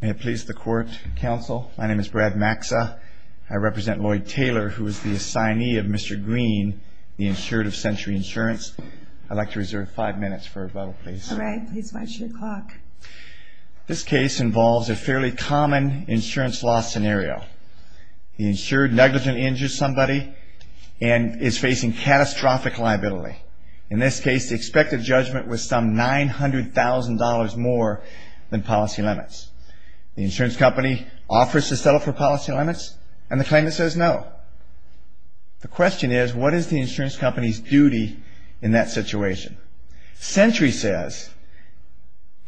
May it please the court and counsel, my name is Brad Maxa. I represent Lloyd Taylor, who is the assignee of Mr. Green, the insured of Sentry Insurance. I'd like to reserve five minutes for rebuttal, please. All right, please watch your clock. This case involves a fairly common insurance loss scenario. The insured negligently injures somebody and is facing catastrophic liability. In this case, the expected judgment was some $900,000 more than policy limits. The insurance company offers to settle for policy limits, and the claimant says no. The question is, what is the insurance company's duty in that situation? Sentry says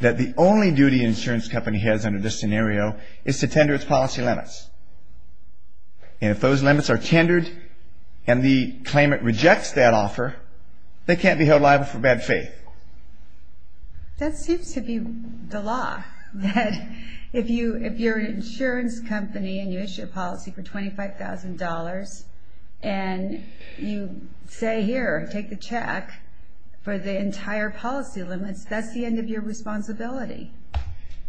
that the only duty an insurance company has under this scenario is to tender its policy limits. And if those limits are tendered and the claimant rejects that offer, they can't be held liable for bad faith. That seems to be the law. That if you're an insurance company and you issue a policy for $25,000 and you say here, take the check for the entire policy limits, that's the end of your responsibility.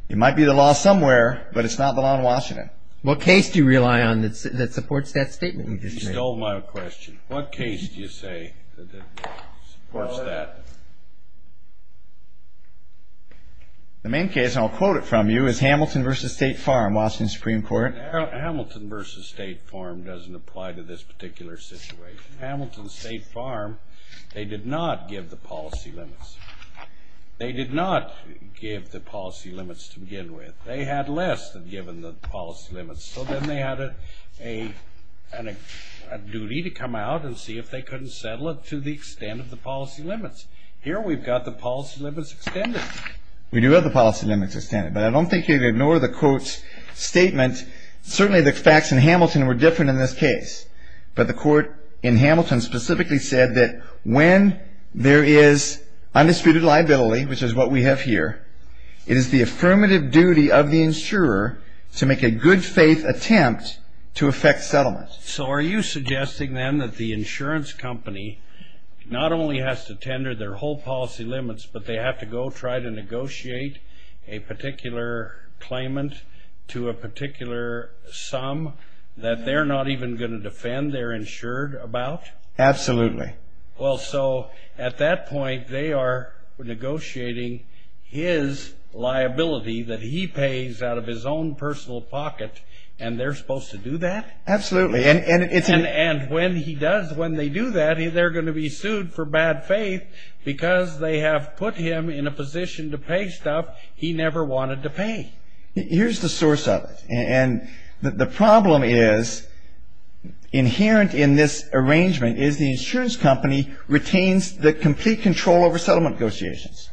It might be the law somewhere, but it's not the law in Washington. All right. What case do you rely on that supports that statement you just made? You stole my question. What case do you say supports that? The main case, and I'll quote it from you, is Hamilton v. State Farm, Washington Supreme Court. Hamilton v. State Farm doesn't apply to this particular situation. Hamilton State Farm, they did not give the policy limits. They did not give the policy limits to begin with. They had less than given the policy limits, so then they had a duty to come out and see if they couldn't settle it to the extent of the policy limits. Here we've got the policy limits extended. We do have the policy limits extended, but I don't think you can ignore the court's statement. Certainly the facts in Hamilton were different in this case, but the court in Hamilton specifically said that when there is undisputed liability, which is what we have here, it is the affirmative duty of the insurer to make a good-faith attempt to effect settlement. So are you suggesting then that the insurance company not only has to tender their whole policy limits, but they have to go try to negotiate a particular claimant to a particular sum that they're not even going to defend their insured about? Absolutely. Well, so at that point they are negotiating his liability that he pays out of his own personal pocket, and they're supposed to do that? Absolutely. And when they do that, they're going to be sued for bad faith because they have put him in a position to pay stuff he never wanted to pay. Here's the source of it. And the problem is inherent in this arrangement is the insurance company retains the complete control over settlement negotiations.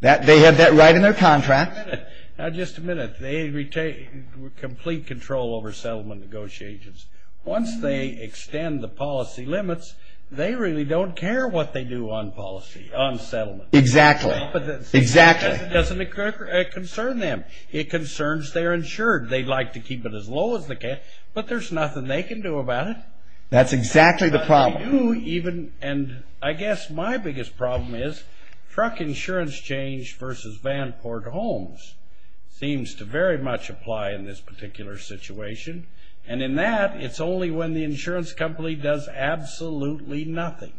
They have that right in their contract. Now, just a minute. They retain complete control over settlement negotiations. Once they extend the policy limits, they really don't care what they do on policy, on settlement. Exactly. Exactly. It doesn't concern them. It concerns their insured. They'd like to keep it as low as they can, but there's nothing they can do about it. That's exactly the problem. And I guess my biggest problem is truck insurance change versus Vanport Homes seems to very much apply in this particular situation. And in that, it's only when the insurance company does absolutely nothing.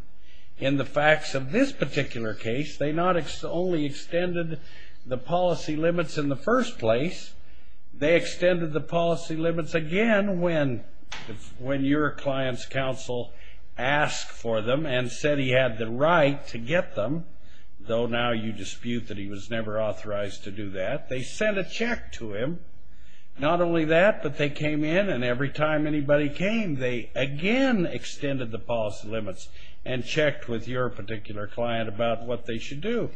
In the facts of this particular case, they not only extended the policy limits in the first place, they extended the policy limits again when your client's counsel asked for them and said he had the right to get them, though now you dispute that he was never authorized to do that. They sent a check to him. Not only that, but they came in and every time anybody came, they again extended the policy limits and checked with your particular client about what they should do.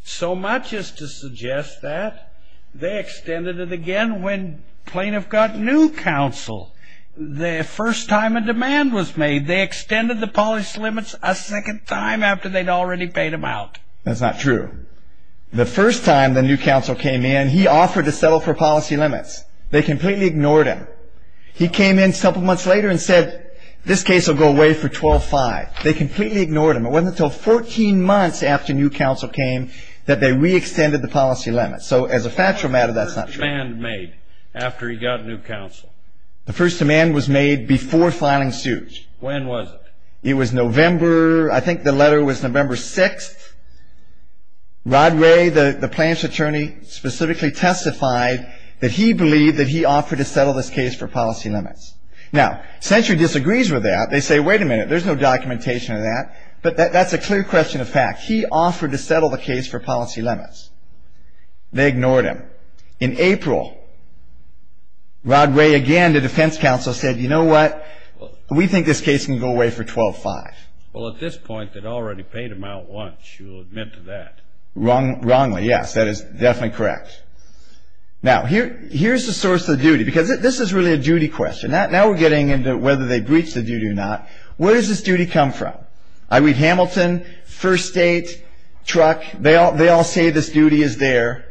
So much is to suggest that they extended it again when plaintiff got new counsel. The first time a demand was made, they extended the policy limits a second time after they'd already paid them out. That's not true. The first time the new counsel came in, he offered to settle for policy limits. They completely ignored him. He came in a couple months later and said this case will go away for 12-5. They completely ignored him. It wasn't until 14 months after new counsel came that they re-extended the policy limits. So as a factual matter, that's not true. When was the first demand made after he got new counsel? The first demand was made before filing suits. When was it? It was November. I think the letter was November 6th. Rod Ray, the plaintiff's attorney, specifically testified that he believed that he offered to settle this case for policy limits. Now, Century disagrees with that. They say, wait a minute, there's no documentation of that. But that's a clear question of fact. He offered to settle the case for policy limits. They ignored him. In April, Rod Ray again to defense counsel said, you know what, we think this case can go away for 12-5. Well, at this point, they'd already paid him out once. You'll admit to that. Wrongly, yes. That is definitely correct. Now, here's the source of the duty, because this is really a duty question. Now we're getting into whether they breached the duty or not. Where does this duty come from? I read Hamilton, First State, Truck. They all say this duty is there.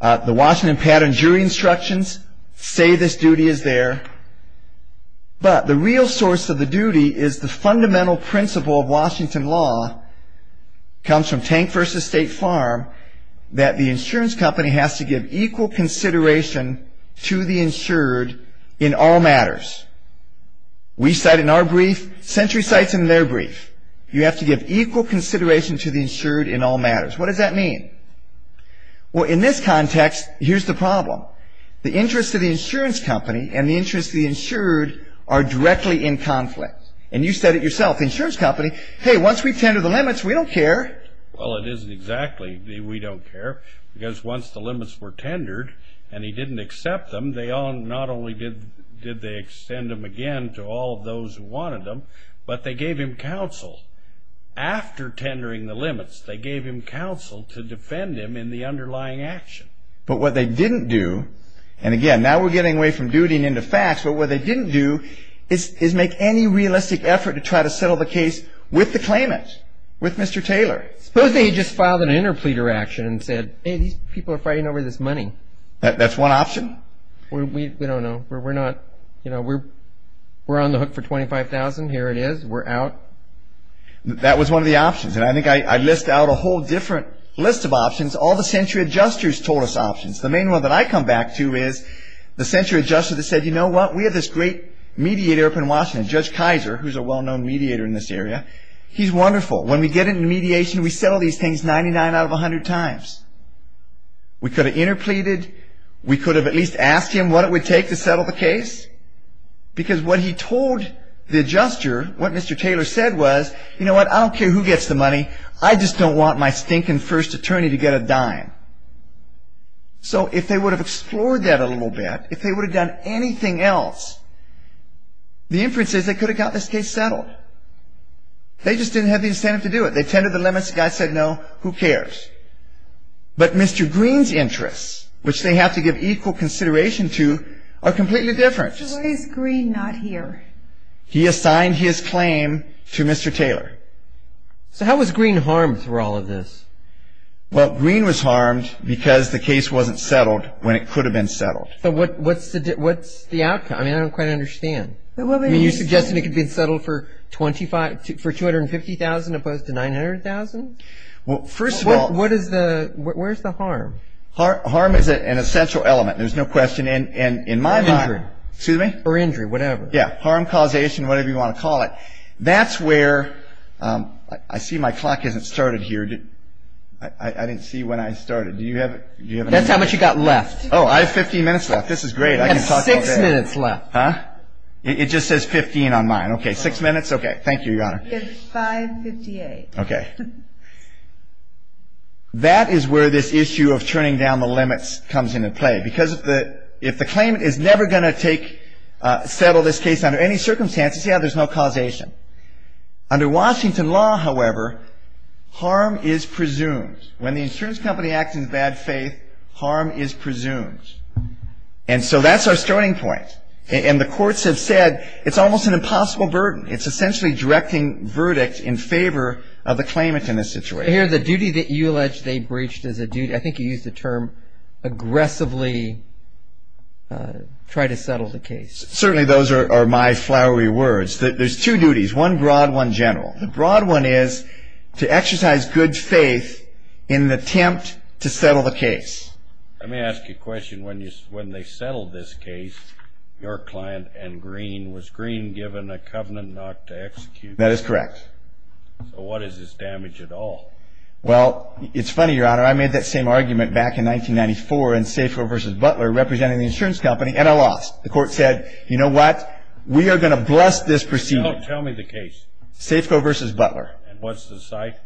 The Washington Patent and Jury Instructions say this duty is there. But the real source of the duty is the fundamental principle of Washington law, comes from Tank v. State Farm, that the insurance company has to give equal consideration to the insured in all matters. We cite in our brief. Century cites in their brief. You have to give equal consideration to the insured in all matters. What does that mean? Well, in this context, here's the problem. The interest of the insurance company and the interest of the insured are directly in conflict. And you said it yourself. The insurance company, hey, once we tender the limits, we don't care. Well, it isn't exactly we don't care, because once the limits were tendered and he didn't accept them, not only did they extend them again to all of those who wanted them, but they gave him counsel. After tendering the limits, they gave him counsel to defend him in the underlying action. But what they didn't do, and again, now we're getting away from duty and into facts, but what they didn't do is make any realistic effort to try to settle the case with the claimant, with Mr. Taylor. Suppose that he just filed an interpleader action and said, hey, these people are fighting over this money. That's one option? We don't know. We're on the hook for $25,000. Here it is. We're out. That was one of the options, and I think I list out a whole different list of options. All the century adjusters told us options. The main one that I come back to is the century adjuster that said, you know what, we have this great mediator up in Washington, Judge Kaiser, who's a well-known mediator in this area. He's wonderful. When we get into mediation, we settle these things 99 out of 100 times. We could have interpleaded. We could have at least asked him what it would take to settle the case because what he told the adjuster, what Mr. Taylor said was, you know what, I don't care who gets the money. I just don't want my stinking first attorney to get a dime. So if they would have explored that a little bit, if they would have done anything else, the inference is they could have got this case settled. They just didn't have the incentive to do it. They tended to the limits. The guy said no. Who cares? But Mr. Green's interests, which they have to give equal consideration to, are completely different. Why is Green not here? He assigned his claim to Mr. Taylor. So how was Green harmed through all of this? Well, Green was harmed because the case wasn't settled when it could have been settled. But what's the outcome? I mean, I don't quite understand. You're suggesting it could have been settled for $250,000 opposed to $900,000? Well, first of all, Where's the harm? Harm is an essential element. There's no question in my mind. Or injury, whatever. Yeah, harm, causation, whatever you want to call it. That's where, I see my clock hasn't started here. I didn't see when I started. That's how much you've got left. Oh, I have 15 minutes left. This is great. You have six minutes left. Huh? It just says 15 on mine. Okay, six minutes? Okay, thank you, Your Honor. It's 5.58. Okay. That is where this issue of churning down the limits comes into play. Because if the claimant is never going to settle this case under any circumstances, yeah, there's no causation. Under Washington law, however, harm is presumed. When the insurance company acts in bad faith, harm is presumed. And so that's our starting point. And the courts have said it's almost an impossible burden. It's essentially directing verdict in favor of the claimant in this situation. Here, the duty that you allege they breached as a duty, I think you used the term aggressively try to settle the case. Certainly those are my flowery words. There's two duties, one broad, one general. The broad one is to exercise good faith in the attempt to settle the case. Let me ask you a question. When they settled this case, your client and Greene, was Greene given a covenant not to execute? That is correct. So what is this damage at all? Well, it's funny, Your Honor. I made that same argument back in 1994 in Safeco versus Butler, representing the insurance company, and I lost. The court said, you know what? We are going to bless this proceeding. Tell me the case. Safeco versus Butler. And what's the site?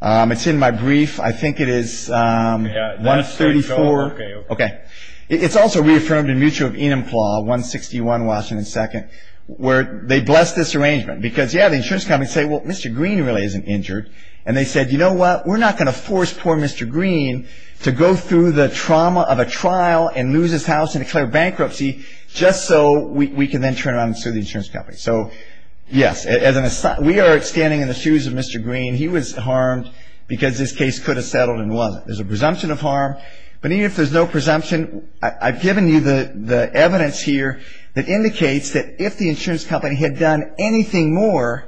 It's in my brief. I think it is 134. Okay. It's also reaffirmed in Mutual of Enumclaw, 161 Washington 2nd, where they blessed this arrangement because, yeah, the insurance company said, well, Mr. Greene really isn't injured. And they said, you know what? We're not going to force poor Mr. Greene to go through the trauma of a trial and lose his house and declare bankruptcy just so we can then turn around and sue the insurance company. So, yes, we are standing in the shoes of Mr. Greene. He was harmed because this case could have settled and wasn't. There's a presumption of harm, but even if there's no presumption, I've given you the evidence here that indicates that if the insurance company had done anything more,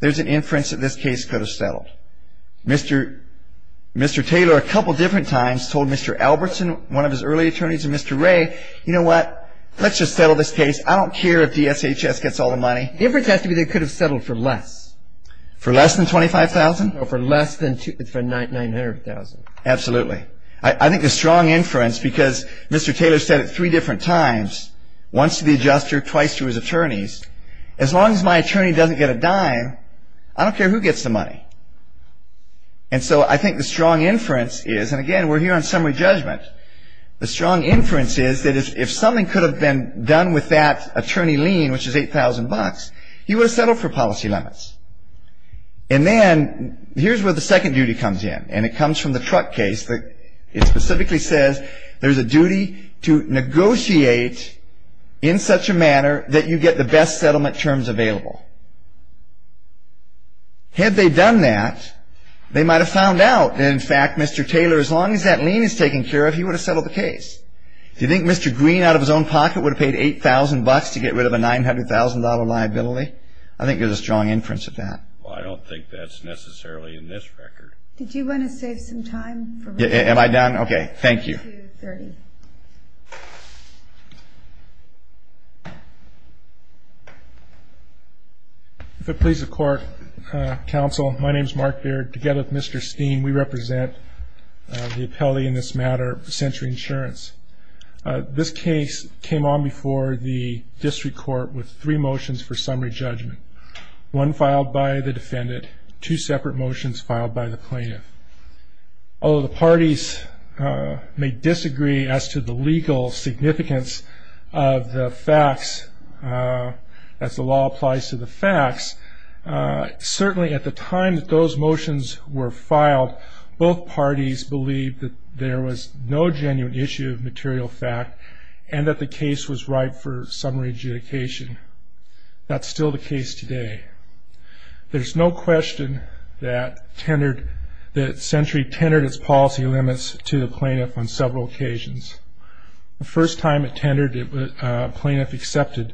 there's an inference that this case could have settled. Mr. Taylor a couple different times told Mr. Albertson, one of his early attorneys, and Mr. Ray, you know what? Let's just settle this case. I don't care if DSHS gets all the money. The inference has to be they could have settled for less. For less than $25,000? For less than $900,000. Absolutely. I think the strong inference, because Mr. Taylor said it three different times, once to the adjuster, twice to his attorneys, as long as my attorney doesn't get a dime, I don't care who gets the money. And so I think the strong inference is, and again, we're here on summary judgment, the strong inference is that if something could have been done with that attorney lien, which is $8,000, he would have settled for policy limits. And then here's where the second duty comes in, and it comes from the truck case. It specifically says there's a duty to negotiate in such a manner that you get the best settlement terms available. Had they done that, they might have found out that, in fact, Mr. Taylor, as long as that lien is taken care of, he would have settled the case. Do you think Mr. Green, out of his own pocket, would have paid $8,000 to get rid of a $900,000 liability? I think there's a strong inference of that. Well, I don't think that's necessarily in this record. Did you want to save some time? Am I done? Okay. Thank you. If it pleases the Court, Counsel, my name is Mark Beard. Together with Mr. Steen, we represent the appellee in this matter, Century Insurance. This case came on before the district court with three motions for summary judgment, one filed by the defendant, two separate motions filed by the plaintiff. Although the parties may disagree as to the legal significance of the facts, as the law applies to the facts, certainly at the time that those motions were filed, both parties believed that there was no genuine issue of material fact and that the case was ripe for summary adjudication. That's still the case today. There's no question that Century tendered its policy limits to the plaintiff on several occasions. The first time it tendered, the plaintiff accepted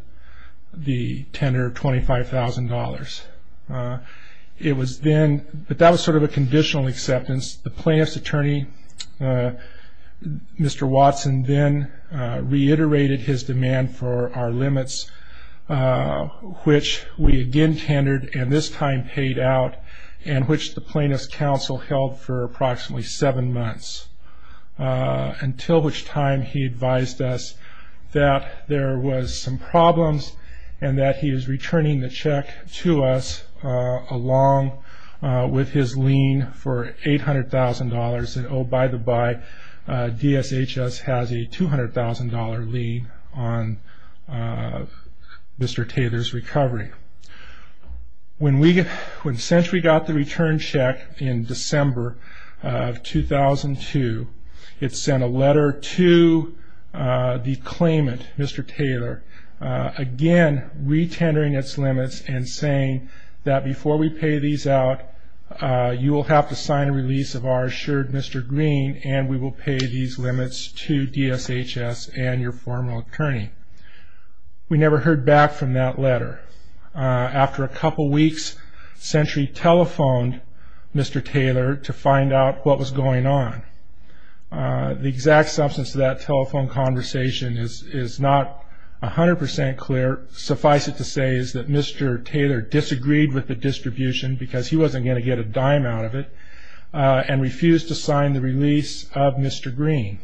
the tender of $25,000. But that was sort of a conditional acceptance. The plaintiff's attorney, Mr. Watson, then reiterated his demand for our limits, which we again tendered and this time paid out, and which the plaintiff's counsel held for approximately seven months, until which time he advised us that there was some problems and that he was returning the check to us along with his lien for $800,000. Oh, by the by, DSHS has a $200,000 lien on Mr. Taylor's recovery. When Century got the return check in December of 2002, it sent a letter to the claimant, Mr. Taylor, again re-tendering its limits and saying that before we pay these out, you will have to sign a release of our assured Mr. Green and we will pay these limits to DSHS and your formal attorney. We never heard back from that letter. After a couple weeks, Century telephoned Mr. Taylor to find out what was going on. The exact substance of that telephone conversation is not 100% clear. Suffice it to say is that Mr. Taylor disagreed with the distribution because he wasn't going to get a dime out of it and refused to sign the release of Mr. Green.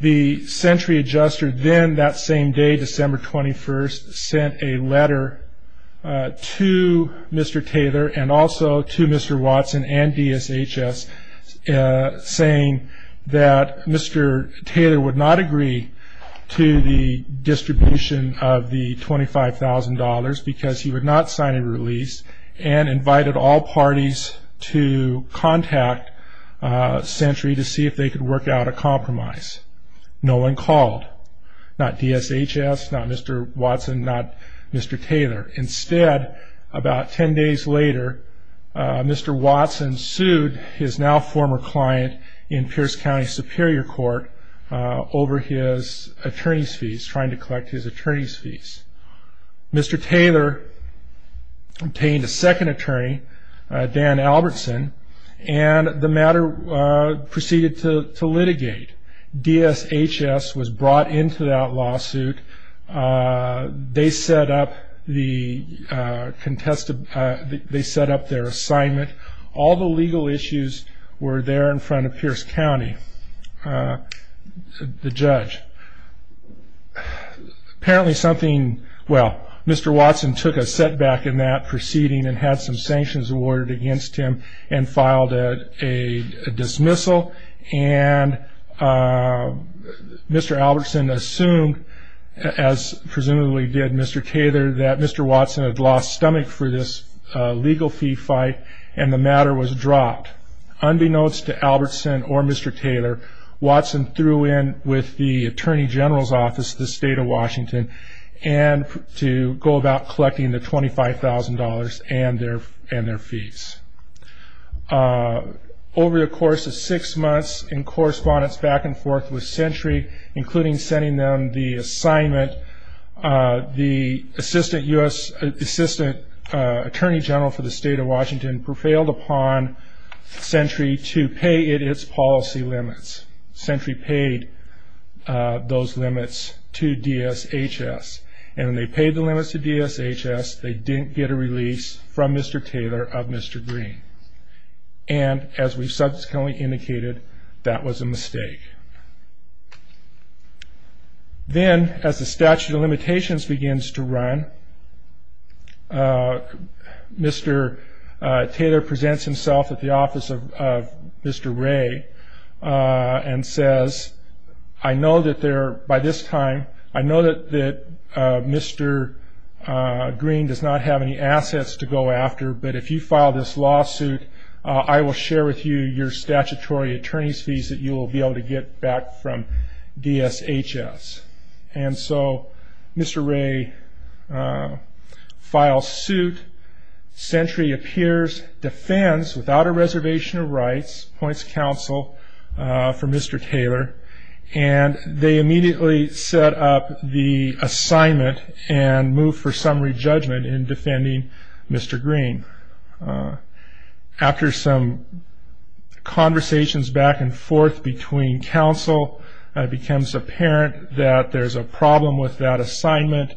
The Century adjuster then that same day, December 21st, sent a letter to Mr. Taylor and also to Mr. Watson and DSHS saying that Mr. Taylor would not agree to the distribution of the $25,000 because he would not sign a release and invited all parties to contact Century to see if they could work out a compromise. No one called, not DSHS, not Mr. Watson, not Mr. Taylor. Instead, about 10 days later, Mr. Watson sued his now former client in Pierce County Superior Court over his attorney's fees, trying to collect his attorney's fees. Mr. Taylor obtained a second attorney, Dan Albertson, and the matter proceeded to litigate. DSHS was brought into that lawsuit. They set up their assignment. All the legal issues were there in front of Pierce County, the judge. Mr. Watson took a setback in that proceeding and had some sanctions awarded against him and filed a dismissal. Mr. Albertson assumed, as presumably did Mr. Taylor, that Mr. Watson had lost stomach for this legal fee fight and the matter was dropped. Unbeknownst to Albertson or Mr. Taylor, Watson threw in with the Attorney General's Office of the State of Washington to go about collecting the $25,000 and their fees. Over the course of six months in correspondence back and forth with Century, including sending them the assignment, the Assistant Attorney General for the State of Washington prevailed upon Century to pay it its policy limits. Century paid those limits to DSHS. And when they paid the limits to DSHS, they didn't get a release from Mr. Taylor of Mr. Green. And as we've subsequently indicated, that was a mistake. Then, as the statute of limitations begins to run, Mr. Taylor presents himself at the office of Mr. Ray and says, I know that by this time, I know that Mr. Green does not have any assets to go after, but if you file this lawsuit, I will share with you your statutory attorney's fees that you will be able to get back from DSHS. And so Mr. Ray files suit, Century appears, defends without a reservation of rights, points counsel for Mr. Taylor, and they immediately set up the assignment and move for summary judgment in defending Mr. Green. After some conversations back and forth between counsel, it becomes apparent that there's a problem with that assignment.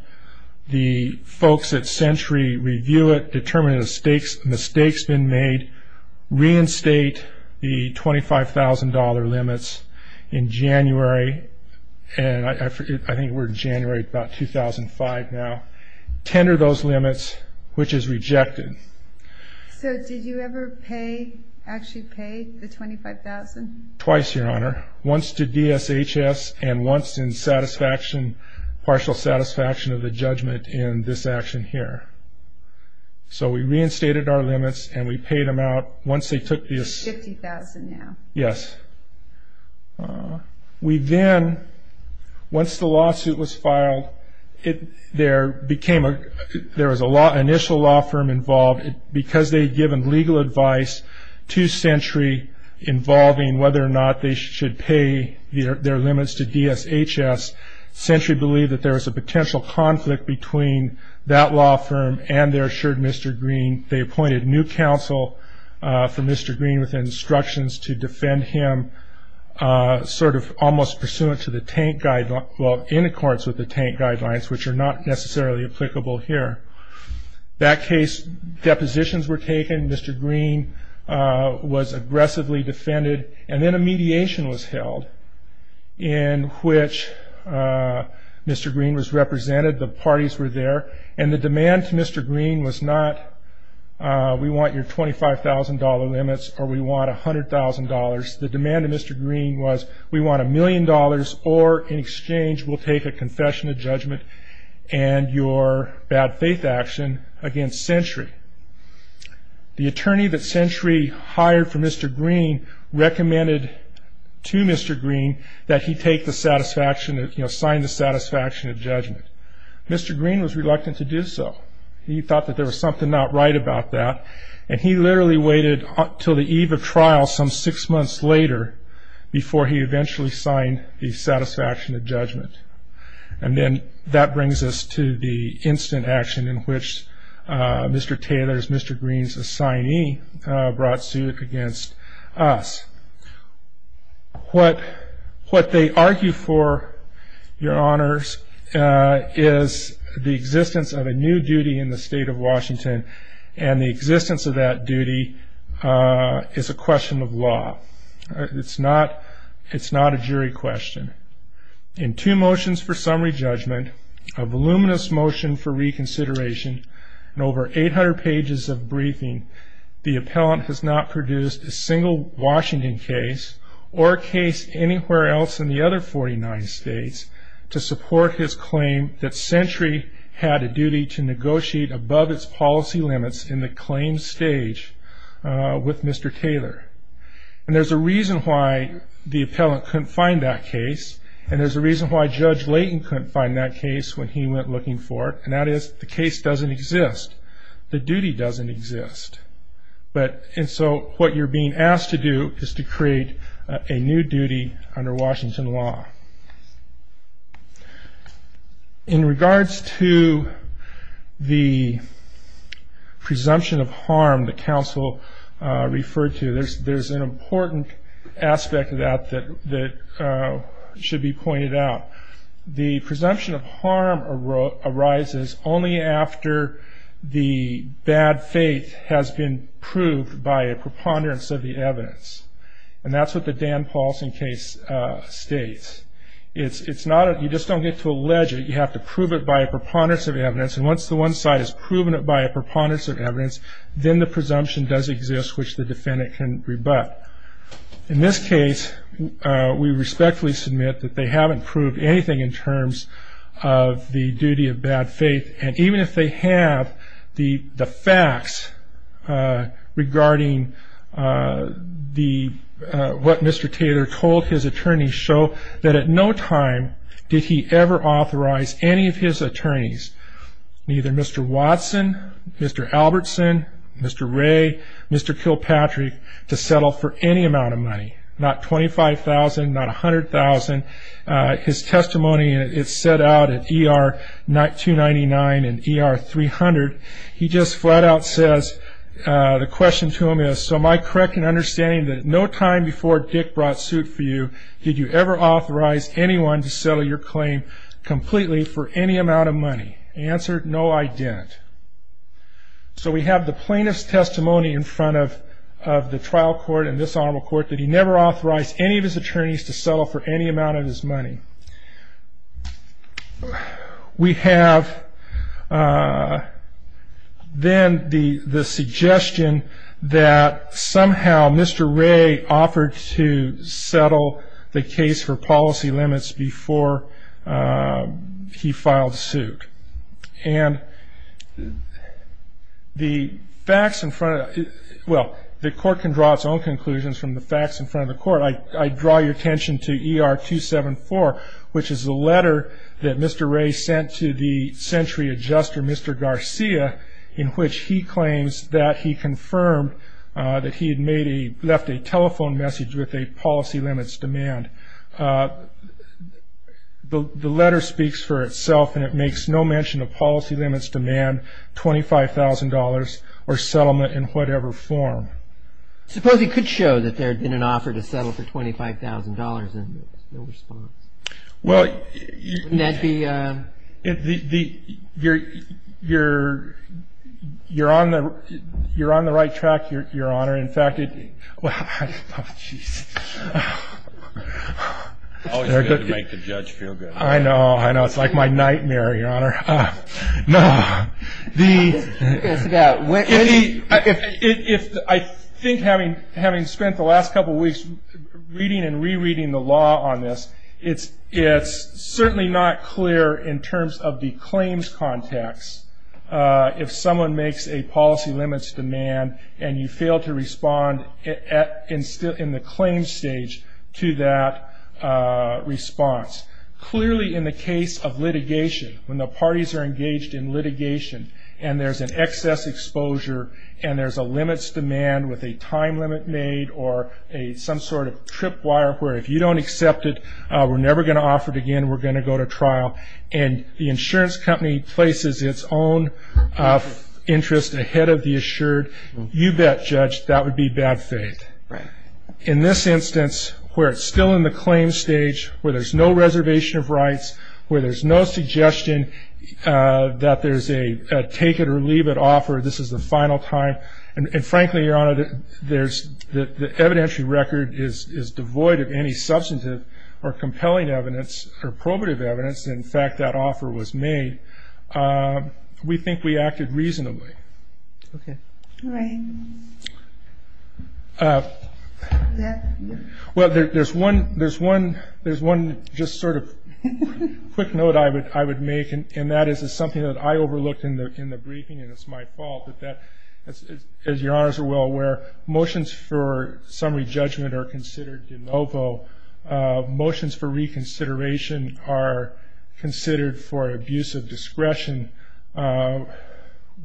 The folks at Century review it, determine a mistake's been made, reinstate the $25,000 limits in January, and I think we're in January, about 2005 now, tender those limits, which is rejected. So did you ever pay, actually pay the $25,000? Twice, Your Honor. Once to DSHS and once in partial satisfaction of the judgment in this action here. So we reinstated our limits and we paid them out once they took this. $50,000 now. Yes. We then, once the lawsuit was filed, there was an initial law firm involved. Because they had given legal advice to Century involving whether or not they should pay their limits to DSHS, Century believed that there was a potential conflict between that law firm and their assured Mr. Green. They appointed new counsel for Mr. Green with instructions to defend him, sort of almost pursuant to the tank guidelines, well in accordance with the tank guidelines, which are not necessarily applicable here. That case, depositions were taken. Mr. Green was aggressively defended. And then a mediation was held in which Mr. Green was represented. The parties were there. And the demand to Mr. Green was not we want your $25,000 limits or we want $100,000. The demand to Mr. Green was we want a million dollars or in exchange we'll take a confession of judgment and your bad faith action against Century. The attorney that Century hired for Mr. Green recommended to Mr. Green that he take the satisfaction, you know, sign the satisfaction of judgment. Mr. Green was reluctant to do so. He thought that there was something not right about that. And he literally waited until the eve of trial some six months later before he eventually signed the satisfaction of judgment. And then that brings us to the instant action in which Mr. Taylor's, Mr. Green's assignee brought suit against us. What they argue for, your honors, is the existence of a new duty in the state of Washington and the existence of that duty is a question of law. It's not a jury question. In two motions for summary judgment, a voluminous motion for reconsideration, and over 800 pages of briefing, the appellant has not produced a single Washington case or a case anywhere else in the other 49 states to support his claim that Century had a duty to negotiate above its policy limits in the claims stage with Mr. Taylor. And there's a reason why the appellant couldn't find that case and there's a reason why Judge Layton couldn't find that case when he went looking for it, and that is the case doesn't exist. The duty doesn't exist. And so what you're being asked to do is to create a new duty under Washington law. In regards to the presumption of harm that counsel referred to, there's an important aspect of that that should be pointed out. The presumption of harm arises only after the bad faith has been proved by a preponderance of the evidence, and that's what the Dan Paulson case states. You just don't get to allege it. You have to prove it by a preponderance of evidence, and once the one side has proven it by a preponderance of evidence, then the presumption does exist which the defendant can rebut. In this case, we respectfully submit that they haven't proved anything in terms of the duty of bad faith, and even if they have, the facts regarding what Mr. Taylor told his attorneys show that at no time did he ever authorize any of his attorneys, neither Mr. Watson, Mr. Albertson, Mr. Ray, Mr. Kilpatrick, to settle for any amount of money, not $25,000, not $100,000. His testimony is set out at ER-299 and ER-300. He just flat out says, the question to him is, so am I correct in understanding that no time before Dick brought suit for you, did you ever authorize anyone to settle your claim completely for any amount of money? Answer, no, I didn't. So we have the plaintiff's testimony in front of the trial court and this Honorable Court that he never authorized any of his attorneys to settle for any amount of his money. We have then the suggestion that somehow Mr. Ray offered to settle the case for policy limits before he filed suit, and the court can draw its own conclusions from the facts in front of the court. I draw your attention to ER-274, which is the letter that Mr. Ray sent to the century adjuster, Mr. Garcia, in which he claims that he confirmed that he had left a telephone message with a policy limits demand. The letter speaks for itself and it makes no mention of policy limits demand, $25,000 or settlement in whatever form. Suppose he could show that there had been an offer to settle for $25,000 and no response. Well, you're on the right track, Your Honor. Always good to make the judge feel good. I know, I know, it's like my nightmare, Your Honor. I think having spent the last couple of weeks reading and re-reading the law on this, it's certainly not clear in terms of the claims context if someone makes a policy limits demand and you fail to respond in the claims stage to that response. Clearly, in the case of litigation, when the parties are engaged in litigation and there's an excess exposure and there's a limits demand with a time limit made or some sort of trip wire where if you don't accept it, we're never going to offer it again, we're going to go to trial, and the insurance company places its own interest ahead of the assured, you bet, Judge, that would be bad faith. In this instance, where it's still in the claims stage, where there's no reservation of rights, where there's no suggestion that there's a take-it-or-leave-it offer, this is the final time, and frankly, Your Honor, the evidentiary record is devoid of any substantive or compelling evidence or probative evidence that, in fact, that offer was made. We think we acted reasonably. Okay. All right. Well, there's one just sort of quick note I would make, and that is something that I overlooked in the briefing, and it's my fault, but that, as Your Honors are well aware, motions for summary judgment are considered de novo. Motions for reconsideration are considered for abuse of discretion.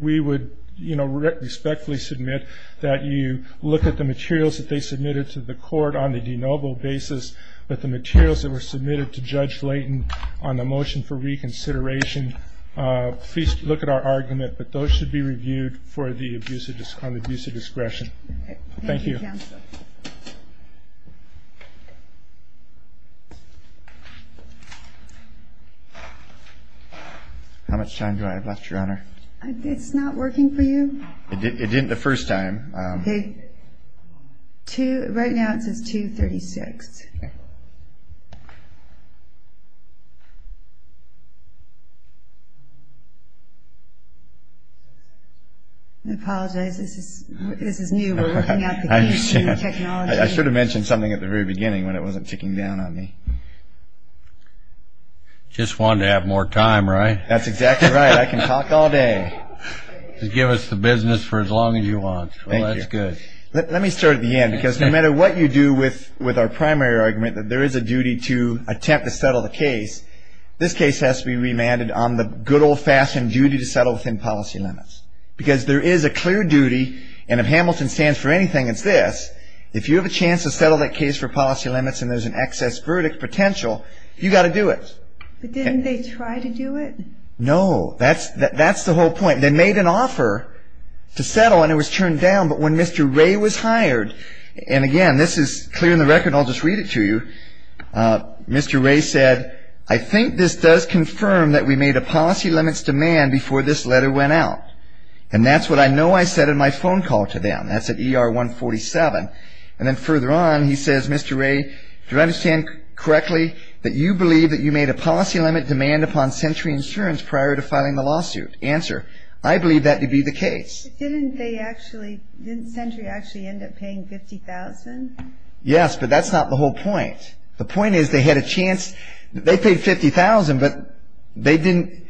We would, you know, respectfully submit that you look at the materials that they submitted to the court on the de novo basis, but the materials that were submitted to Judge Layton on the motion for reconsideration, please look at our argument, but those should be reviewed on the abuse of discretion. Thank you. Thank you, Counsel. How much time do I have left, Your Honor? It's not working for you? It didn't the first time. Okay. Right now it says 236. I apologize. This is new. We're looking at the new technology. I should have mentioned something at the very beginning when it wasn't ticking down on me. Just wanted to have more time, right? That's exactly right. I can talk all day. Just give us the business for as long as you want. Well, that's good. Let me start at the end, because no matter what you do with our primary argument, that there is a duty to attempt to settle the case, this case has to be remanded on the good old-fashioned duty to settle within policy limits. Because there is a clear duty, and if Hamilton stands for anything, it's this. If you have a chance to settle that case for policy limits and there's an excess verdict potential, you've got to do it. But didn't they try to do it? No. That's the whole point. They made an offer to settle, and it was turned down. But when Mr. Ray was hired, and again, this is clear in the record, and I'll just read it to you, Mr. Ray said, I think this does confirm that we made a policy limits demand before this letter went out. And that's what I know I said in my phone call to them. That's at ER 147. And then further on, he says, Mr. Ray, do you understand correctly that you believe that you made a policy limit demand upon Century Insurance prior to filing the lawsuit? Answer, I believe that to be the case. Didn't Century actually end up paying $50,000? Yes, but that's not the whole point. The point is they had a chance. They paid $50,000, but they didn't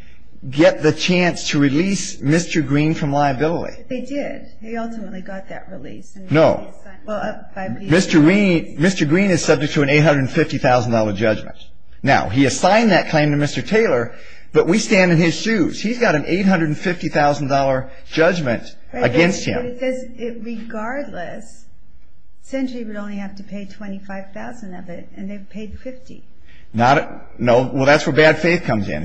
get the chance to release Mr. Green from liability. They did. They ultimately got that release. No. Mr. Green is subject to an $850,000 judgment. Now, he assigned that claim to Mr. Taylor, but we stand in his shoes. He's got an $850,000 judgment against him. Regardless, Century would only have to pay $25,000 of it, and they paid $50,000. No, well, that's where bad faith comes in.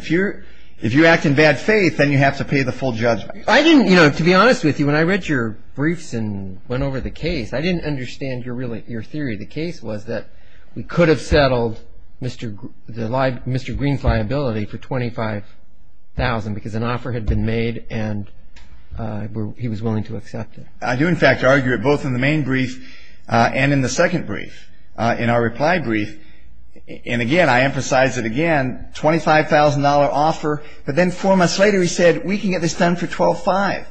If you act in bad faith, then you have to pay the full judgment. I didn't, you know, to be honest with you, when I read your briefs and went over the case, I didn't understand your theory. The case was that we could have settled Mr. Green's liability for $25,000 because an offer had been made and he was willing to accept it. I do, in fact, argue it both in the main brief and in the second brief. In our reply brief, and again, I emphasize it again, $25,000 offer, but then four months later he said, we can get this done for $12,500.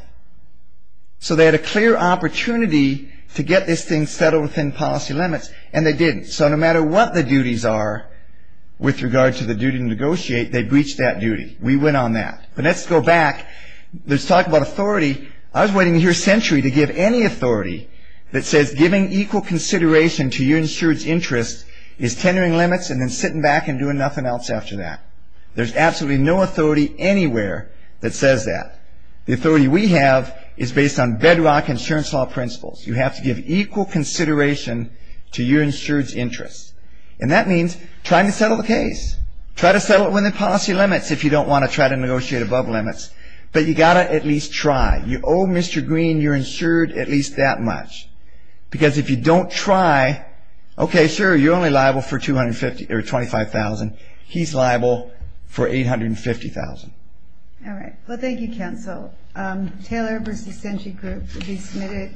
So they had a clear opportunity to get this thing settled within policy limits, and they didn't. So no matter what the duties are with regard to the duty to negotiate, they breached that duty. We went on that. But let's go back. Let's talk about authority. I was waiting to hear Century to give any authority that says giving equal consideration to your insured's interest is tendering limits and then sitting back and doing nothing else after that. There's absolutely no authority anywhere that says that. The authority we have is based on bedrock insurance law principles. You have to give equal consideration to your insured's interest. And that means trying to settle the case. Try to settle it within policy limits if you don't want to try to negotiate above limits. But you've got to at least try. You owe Mr. Green your insured at least that much. Because if you don't try, okay, sure, you're only liable for $25,000. He's liable for $850,000. All right. Well, thank you, Counsel. Taylor v. Century Group to be submitted.